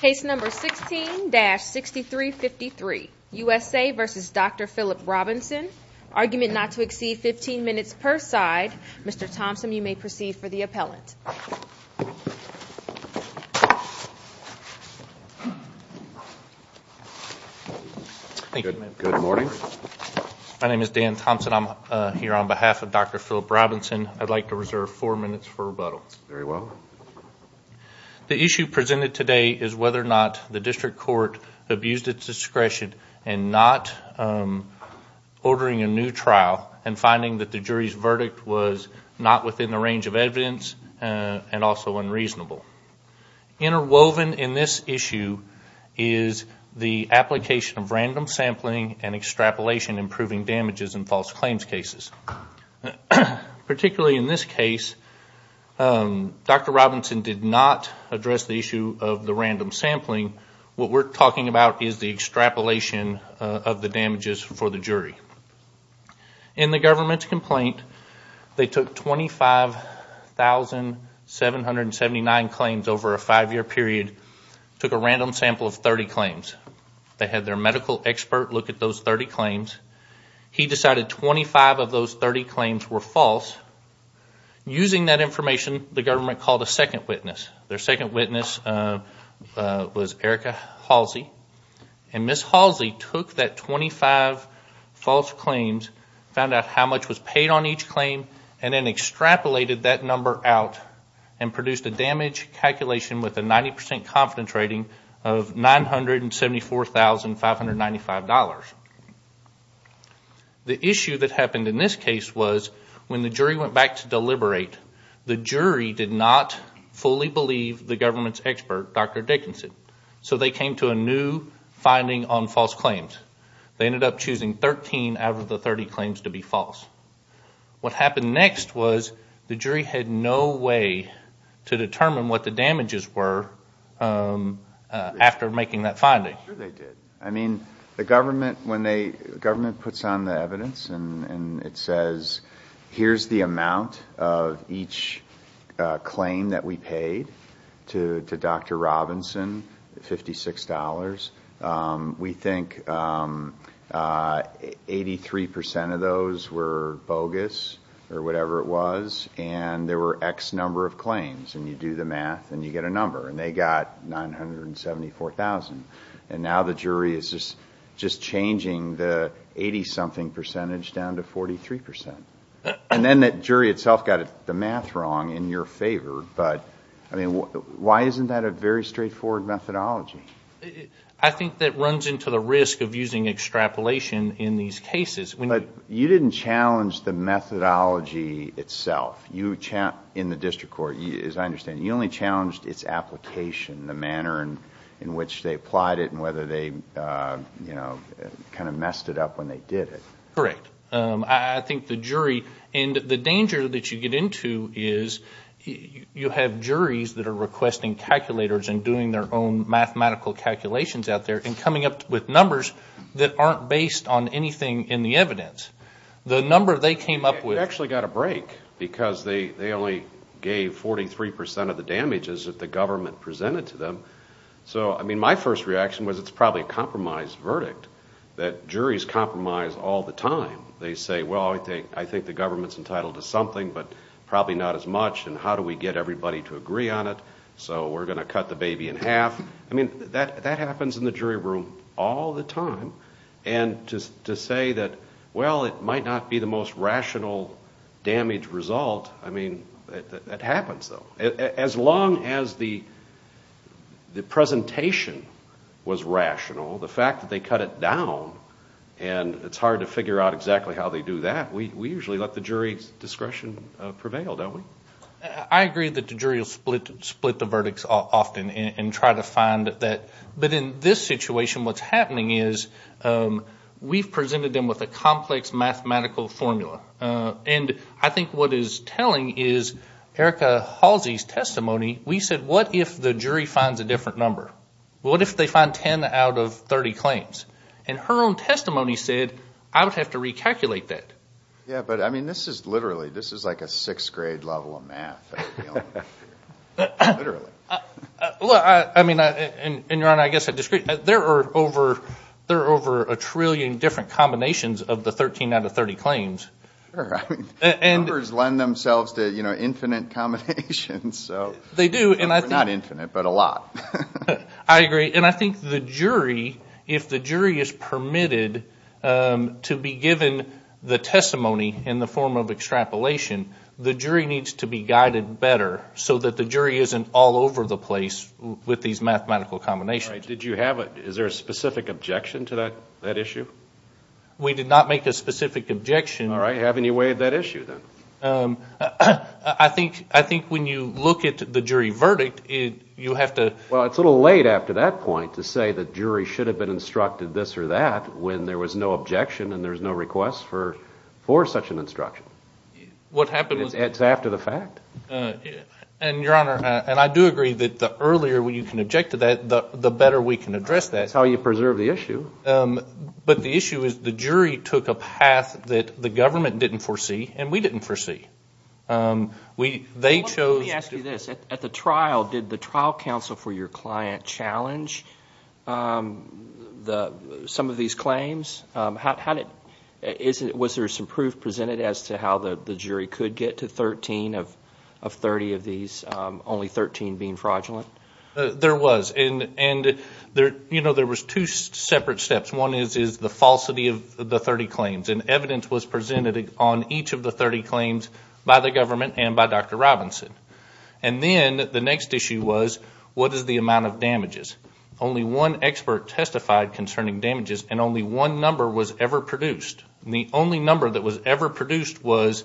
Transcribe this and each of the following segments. Case number 16-6353, USA v. Dr. Philip Robinson. Argument not to exceed 15 minutes per side. Mr. Thompson, you may proceed for the appellant. Good morning. My name is Dan Thompson. I'm here on behalf of Dr. Philip Robinson. I'd like to reserve four minutes for rebuttal. Very well. The issue presented today is whether or not the district court abused its discretion in not ordering a new trial and finding that the jury's verdict was not within the range of evidence and also unreasonable. Interwoven in this issue is the application of random sampling and extrapolation in proving damages in false claims cases. Particularly in this case, Dr. Robinson did not address the issue of the random sampling. What we're talking about is the extrapolation of the damages for the jury. In the government's complaint, they took 25,779 claims over a five-year period, took a random sample of 30 claims. They had their medical expert look at those 30 claims. He decided 25 of those 30 claims were false. Using that information, the government called a second witness. Their second witness was Erica Halsey. And Ms. Halsey took that 25 false claims, found out how much was paid on each claim, and then extrapolated that number out and produced a damage calculation with a 90% confidence rating of $974,595. The issue that happened in this case was when the jury went back to deliberate, the jury did not fully believe the government's expert, Dr. Dickinson. So they came to a new finding on false claims. They ended up choosing 13 out of the 30 claims to be false. What happened next was the jury had no way to determine what the damages were after making that finding. Sure they did. I mean, the government puts on the evidence and it says, here's the amount of each claim that we paid to Dr. Robinson, $56. We think 83% of those were bogus or whatever it was. And there were X number of claims. And you do the math and you get a number. And they got $974,000. And now the jury is just changing the 80-something percentage down to 43%. And then the jury itself got the math wrong in your favor. But, I mean, why isn't that a very straightforward methodology? I think that runs into the risk of using extrapolation in these cases. But you didn't challenge the methodology itself. In the district court, as I understand it, you only challenged its application, the manner in which they applied it and whether they kind of messed it up when they did it. Correct. I think the jury, and the danger that you get into is you have juries that are requesting calculators and doing their own mathematical calculations out there and coming up with numbers that aren't based on anything in the evidence. The number they came up with. They actually got a break because they only gave 43% of the damages that the government presented to them. So, I mean, my first reaction was it's probably a compromise verdict, that juries compromise all the time. They say, well, I think the government's entitled to something, but probably not as much. And how do we get everybody to agree on it? So we're going to cut the baby in half. I mean, that happens in the jury room all the time. And to say that, well, it might not be the most rational damage result, I mean, that happens, though. As long as the presentation was rational, the fact that they cut it down and it's hard to figure out exactly how they do that, we usually let the jury's discretion prevail, don't we? I agree that the jury will split the verdicts often and try to find that. But in this situation, what's happening is we've presented them with a complex mathematical formula. And I think what is telling is Erica Halsey's testimony, we said, what if the jury finds a different number? What if they find 10 out of 30 claims? And her own testimony said, I would have to recalculate that. Yeah, but I mean, this is literally, this is like a sixth grade level of math. Literally. Well, I mean, and Ron, I guess I disagree. There are over a trillion different combinations of the 13 out of 30 claims. Sure. Numbers lend themselves to, you know, infinite combinations. They do. Not infinite, but a lot. I agree. And I think the jury, if the jury is permitted to be given the testimony in the form of extrapolation, the jury needs to be guided better so that the jury isn't all over the place with these mathematical combinations. Right. Did you have a, is there a specific objection to that issue? We did not make a specific objection. All right. Haven't you waived that issue then? I think when you look at the jury verdict, you have to. Well, it's a little late after that point to say the jury should have been instructed this or that when there was no objection and there was no request for such an instruction. What happened was. It's after the fact. And, Your Honor, and I do agree that the earlier you can object to that, the better we can address that. That's how you preserve the issue. But the issue is the jury took a path that the government didn't foresee and we didn't foresee. They chose. Let me ask you this. At the trial, did the trial counsel for your client challenge some of these claims? Was there some proof presented as to how the jury could get to 13 of 30 of these, only 13 being fraudulent? There was. And, you know, there was two separate steps. One is the falsity of the 30 claims. And evidence was presented on each of the 30 claims by the government and by Dr. Robinson. And then the next issue was what is the amount of damages? Only one expert testified concerning damages and only one number was ever produced. And the only number that was ever produced was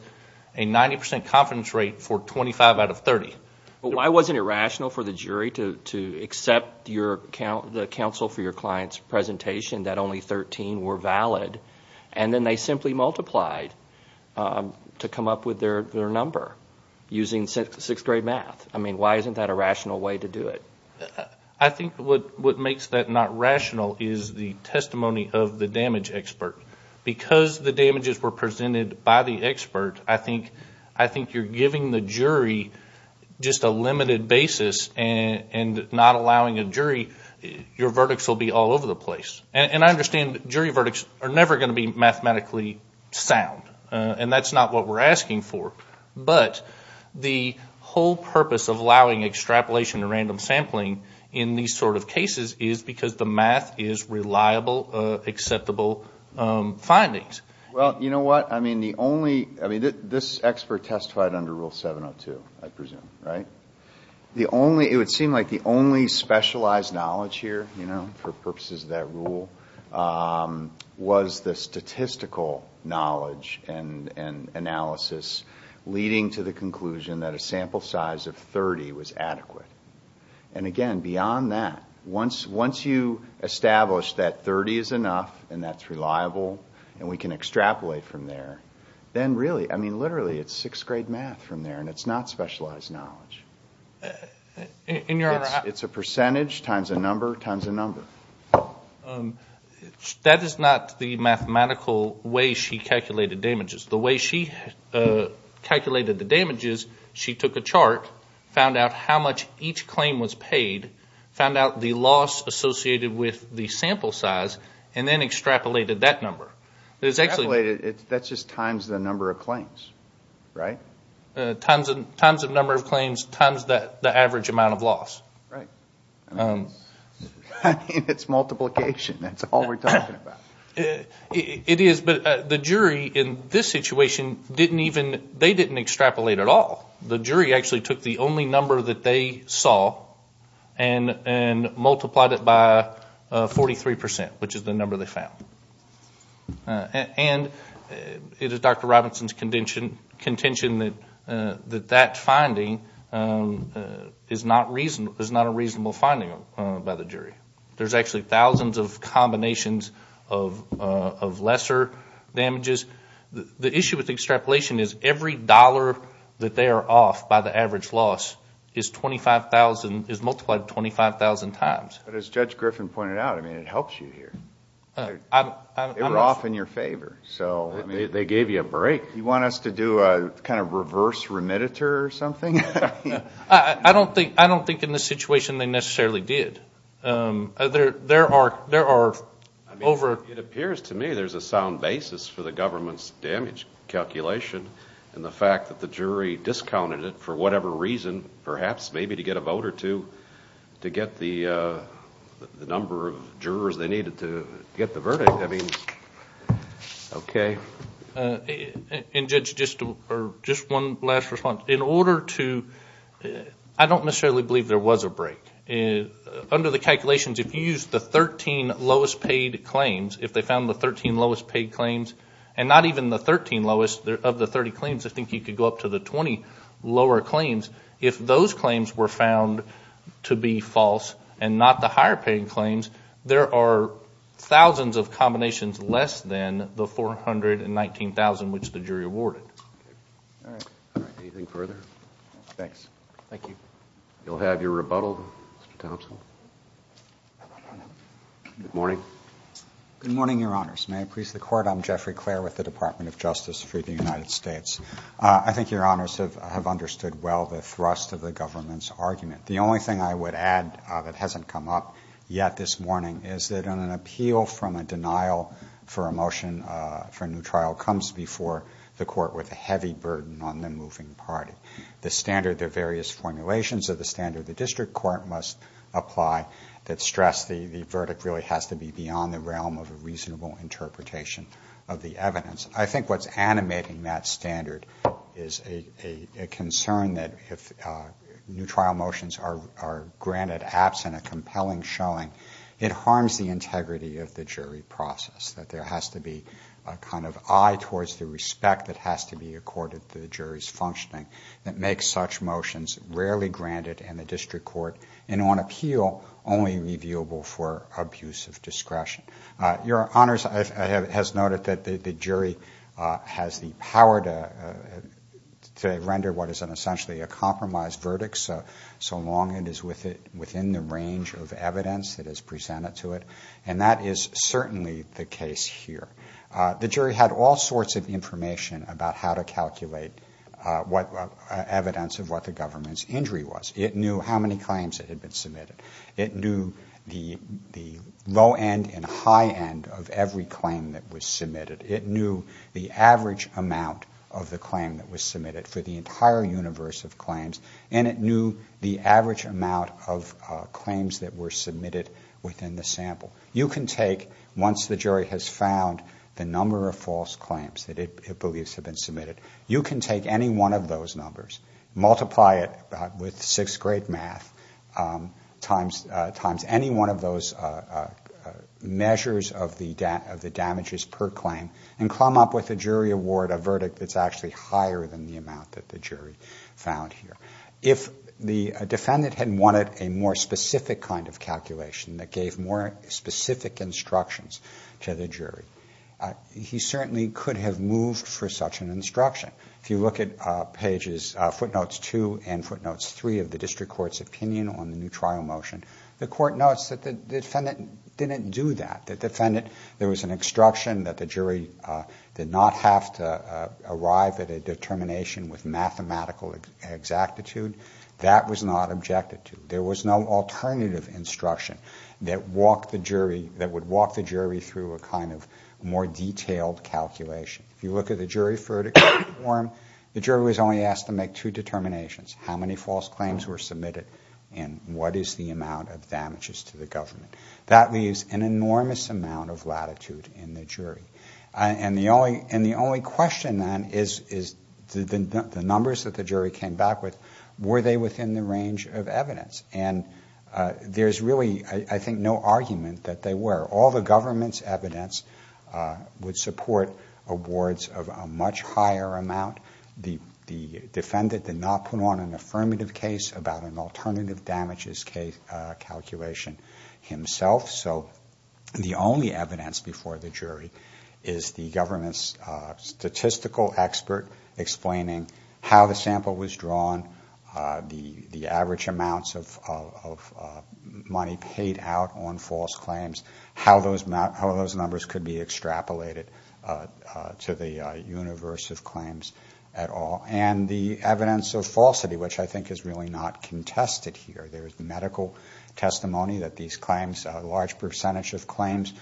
a 90 percent confidence rate for 25 out of 30. Why wasn't it rational for the jury to accept the counsel for your client's presentation that only 13 were valid? And then they simply multiplied to come up with their number using sixth grade math. I mean, why isn't that a rational way to do it? I think what makes that not rational is the testimony of the damage expert. Because the damages were presented by the expert, I think you're giving the jury just a limited basis and not allowing a jury, your verdicts will be all over the place. And I understand jury verdicts are never going to be mathematically sound. And that's not what we're asking for. But the whole purpose of allowing extrapolation and random sampling in these sort of cases is because the math is reliable, acceptable findings. Well, you know what? I mean, the only, I mean, this expert testified under Rule 702, I presume, right? The only, it would seem like the only specialized knowledge here, you know, for purposes of that rule, was the statistical knowledge and analysis leading to the conclusion that a sample size of 30 was adequate. And again, beyond that, once you establish that 30 is enough and that's reliable and we can extrapolate from there, then really, I mean, literally, it's sixth grade math from there and it's not specialized knowledge. It's a percentage times a number times a number. That is not the mathematical way she calculated damages. The way she calculated the damages, she took a chart, found out how much each claim was paid, found out the loss associated with the sample size, and then extrapolated that number. Extrapolated? That's just times the number of claims, right? Times the number of claims times the average amount of loss. Right. I mean, it's multiplication. That's all we're talking about. It is, but the jury in this situation didn't even, they didn't extrapolate at all. The jury actually took the only number that they saw and multiplied it by 43 percent, which is the number they found. And it is Dr. Robinson's contention that that finding is not a reasonable finding by the jury. There's actually thousands of combinations of lesser damages. The issue with extrapolation is every dollar that they are off by the average loss is 25,000, is multiplied 25,000 times. But as Judge Griffin pointed out, I mean, it helps you here. They were off in your favor, so. They gave you a break. You want us to do a kind of reverse remediator or something? I don't think in this situation they necessarily did. There are over. It appears to me there's a sound basis for the government's damage calculation and the fact that the jury discounted it for whatever reason, perhaps maybe to get a vote or two, to get the number of jurors they needed to get the verdict. I mean, okay. And Judge, just one last response. In order to, I don't necessarily believe there was a break. Under the calculations, if you use the 13 lowest paid claims, if they found the 13 lowest paid claims, and not even the 13 lowest of the 30 claims, I think you could go up to the 20 lower claims. If those claims were found to be false and not the higher paying claims, there are thousands of combinations less than the 419,000 which the jury awarded. All right. Anything further? No. Thanks. Thank you. You'll have your rebuttal, Mr. Thompson. Good morning. Good morning, Your Honors. May I please the Court? I'm Jeffrey Clair with the Department of Justice for the United States. I think Your Honors have understood well the thrust of the government's argument. The only thing I would add that hasn't come up yet this morning is that an appeal from a denial for a motion for a new trial comes before the Court with a heavy burden on the moving party. The standard, there are various formulations of the standard the district court must apply that stress the verdict really has to be beyond the realm of a reasonable interpretation of the evidence. I think what's animating that standard is a concern that if new trial motions are granted absent a compelling showing, it harms the integrity of the jury process, that there has to be a kind of eye towards the respect that has to be accorded to the jury's functioning that makes such motions rarely granted in the district court and on appeal only reviewable for abuse of discretion. Your Honors has noted that the jury has the power to render what is essentially a compromised verdict so long as it is within the range of evidence that is presented to it, and that is certainly the case here. The jury had all sorts of information about how to calculate evidence of what the government's injury was. It knew how many claims had been submitted. It knew the low end and high end of every claim that was submitted. It knew the average amount of the claim that was submitted for the entire universe of claims, and it knew the average amount of claims that were submitted within the sample. You can take, once the jury has found the number of false claims that it believes have been submitted, you can take any one of those numbers, multiply it with sixth-grade math, times any one of those measures of the damages per claim, and come up with a jury award, a verdict that's actually higher than the amount that the jury found here. If the defendant had wanted a more specific kind of calculation that gave more specific instructions to the jury, he certainly could have moved for such an instruction. If you look at footnotes two and footnotes three of the district court's opinion on the new trial motion, the court notes that the defendant didn't do that. There was an instruction that the jury did not have to arrive at a determination with mathematical exactitude. That was not objected to. There was no alternative instruction that walked the jury, that would walk the jury through a kind of more detailed calculation. If you look at the jury verdict form, the jury was only asked to make two determinations, how many false claims were submitted and what is the amount of damages to the government. That leaves an enormous amount of latitude in the jury. And the only question then is the numbers that the jury came back with, were they within the range of evidence? And there's really, I think, no argument that they were. All the government's evidence would support awards of a much higher amount. The defendant did not put on an affirmative case about an alternative damages calculation himself. So the only evidence before the jury is the government's statistical expert explaining how the sample was drawn, the average amounts of money paid out on false claims, how those numbers could be extrapolated to the universe of claims at all, and the evidence of falsity, which I think is really not contested here. There is medical testimony that these claims, a large percentage of claims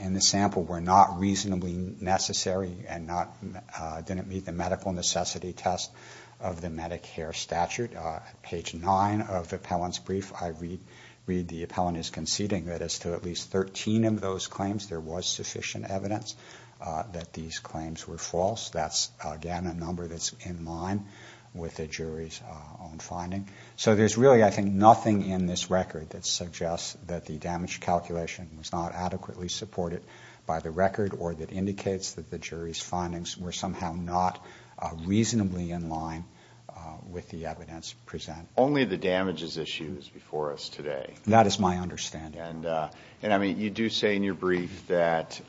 in the sample, were not reasonably necessary and didn't meet the medical necessity test of the Medicare statute. Page 9 of the appellant's brief, I read the appellant is conceding that as to at least 13 of those claims, there was sufficient evidence that these claims were false. That's, again, a number that's in line with the jury's own finding. So there's really, I think, nothing in this record that suggests that the damage calculation was not adequately supported by the record or that indicates that the jury's findings were somehow not reasonably in line with the evidence presented. Only the damages issue is before us today. That is my understanding. And, I mean, you do say in your brief that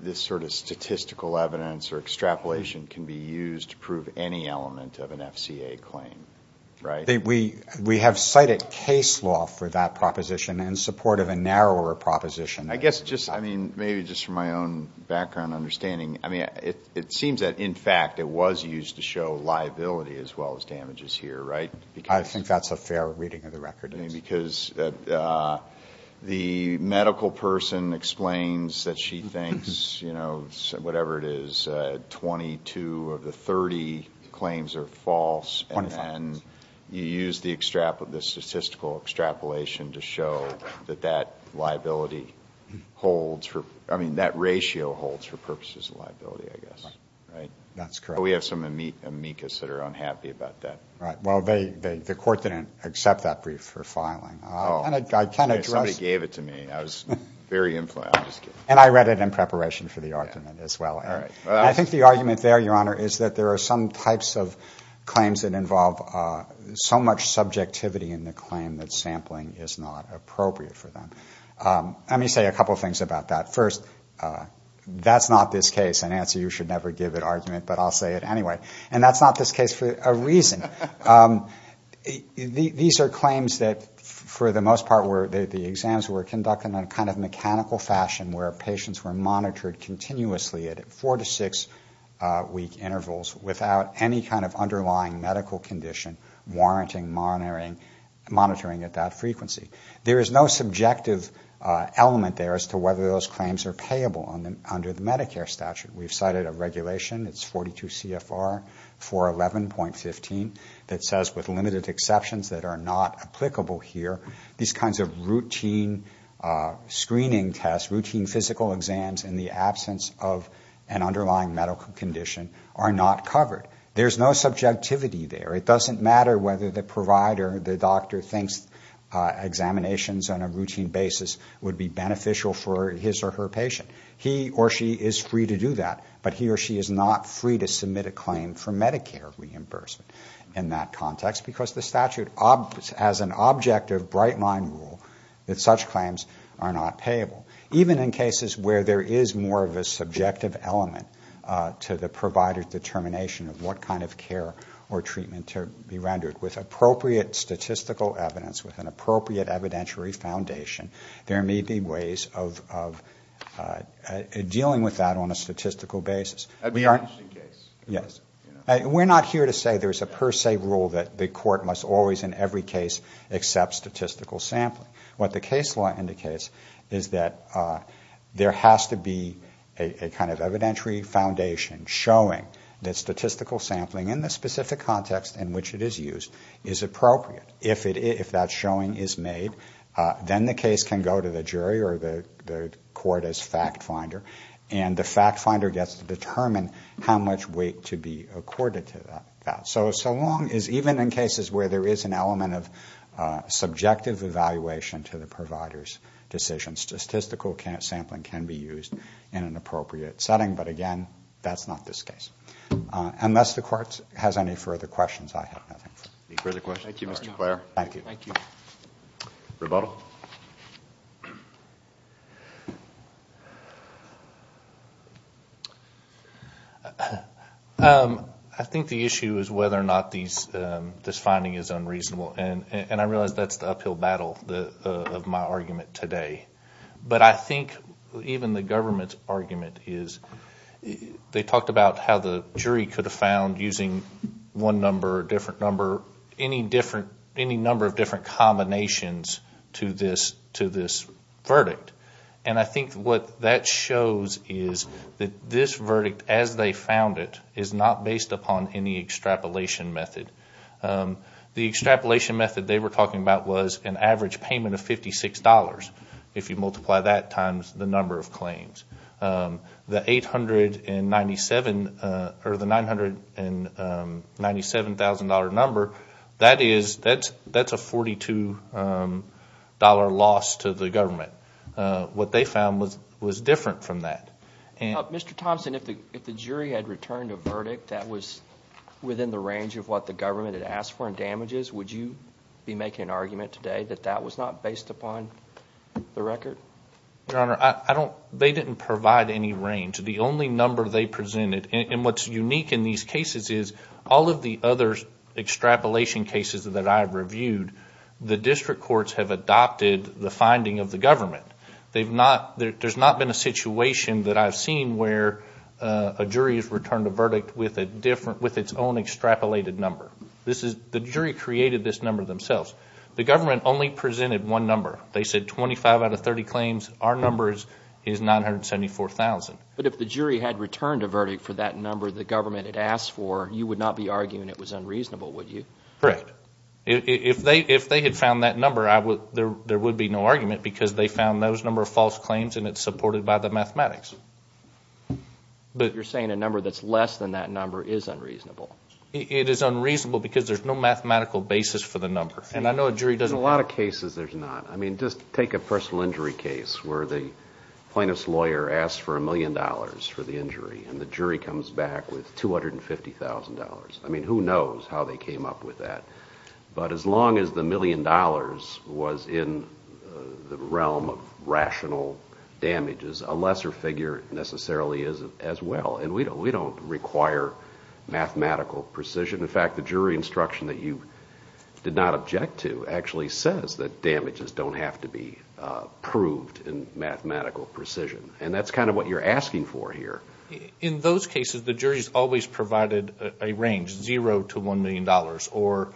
this sort of statistical evidence or extrapolation can be used to prove any element of an FCA claim, right? We have cited case law for that proposition in support of a narrower proposition. I guess just, I mean, maybe just from my own background understanding, I mean, it seems that, in fact, it was used to show liability as well as damages here, right? I think that's a fair reading of the record. Because the medical person explains that she thinks, you know, whatever it is, 22 of the 30 claims are false. And you use the statistical extrapolation to show that that liability holds for, I mean, that ratio holds for purposes of liability, I guess, right? That's correct. We have some amicus that are unhappy about that. Right. Well, the court didn't accept that brief for filing. Somebody gave it to me. I was very influenced. And I read it in preparation for the argument as well. I think the argument there, Your Honor, is that there are some types of claims that involve so much subjectivity in the claim that sampling is not appropriate for them. Let me say a couple of things about that. First, that's not this case. And, Nancy, you should never give it argument, but I'll say it anyway. And that's not this case for a reason. These are claims that, for the most part, the exams were conducted in a kind of mechanical fashion where patients were monitored continuously at four- to six-week intervals without any kind of underlying medical condition warranting monitoring at that frequency. There is no subjective element there as to whether those claims are payable under the Medicare statute. We've cited a regulation. It's 42 CFR 411.15 that says with limited exceptions that are not applicable here, these kinds of routine screening tests, routine physical exams, in the absence of an underlying medical condition are not covered. There's no subjectivity there. It doesn't matter whether the provider, the doctor, thinks examinations on a routine basis would be beneficial for his or her patient. He or she is free to do that, but he or she is not free to submit a claim for Medicare reimbursement in that context because the statute has an objective, bright-line rule that such claims are not payable. Even in cases where there is more of a subjective element to the provider's determination of what kind of care or treatment to be rendered with appropriate statistical evidence, with an appropriate evidentiary foundation, there may be ways of dealing with that on a statistical basis. We're not here to say there's a per se rule that the court must always in every case accept statistical sampling. What the case law indicates is that there has to be a kind of evidentiary foundation showing that statistical sampling in the specific context in which it is used is appropriate. If that showing is made, then the case can go to the jury or the court as fact finder, and the fact finder gets to determine how much weight to be accorded to that. So long as even in cases where there is an element of subjective evaluation to the provider's decision, statistical sampling can be used in an appropriate setting. But, again, that's not this case. Unless the court has any further questions, I have nothing. Any further questions? Thank you, Mr. Clare. Thank you. Thank you. Rebuttal? I think the issue is whether or not this finding is unreasonable, and I realize that's the uphill battle of my argument today. But I think even the government's argument is, they talked about how the jury could have found, using one number or a different number, any number of different combinations to this verdict. And I think what that shows is that this verdict, as they found it, is not based upon any extrapolation method. The extrapolation method they were talking about was an average payment of $56, if you multiply that times the number of claims. The $997,000 number, that's a $42 loss to the government. What they found was different from that. Mr. Thompson, if the jury had returned a verdict that was within the range of what the government had asked for in damages, would you be making an argument today that that was not based upon the record? Your Honor, they didn't provide any range. The only number they presented, and what's unique in these cases is, all of the other extrapolation cases that I've reviewed, the district courts have adopted the finding of the government. There's not been a situation that I've seen where a jury has returned a verdict with its own extrapolated number. The jury created this number themselves. The government only presented one number. They said 25 out of 30 claims, our number is $974,000. But if the jury had returned a verdict for that number the government had asked for, you would not be arguing it was unreasonable, would you? Correct. If they had found that number, there would be no argument because they found those number of false claims and it's supported by the mathematics. But you're saying a number that's less than that number is unreasonable. It is unreasonable because there's no mathematical basis for the number. And I know a jury doesn't do that. In a lot of cases there's not. I mean, just take a personal injury case where the plaintiff's lawyer asks for a million dollars for the injury and the jury comes back with $250,000. I mean, who knows how they came up with that. But as long as the million dollars was in the realm of rational damages, a lesser figure necessarily is as well. And we don't require mathematical precision. In fact, the jury instruction that you did not object to actually says that damages don't have to be proved in mathematical precision. And that's kind of what you're asking for here. In those cases, the jury's always provided a range, zero to $1 million. Or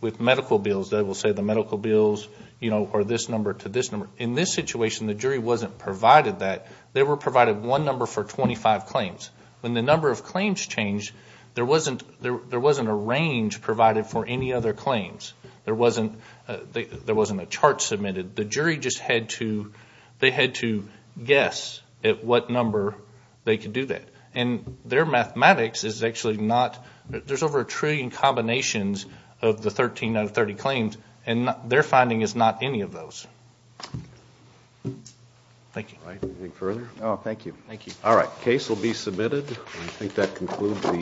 with medical bills, they will say the medical bills are this number to this number. In this situation, the jury wasn't provided that. They were provided one number for 25 claims. When the number of claims changed, there wasn't a range provided for any other claims. There wasn't a chart submitted. The jury just had to guess at what number they could do that. And their mathematics is actually not. There's over a trillion combinations of the 13 out of 30 claims, and their finding is not any of those. Thank you. Anything further? No, thank you. All right. Case will be submitted. I think that concludes the hearing.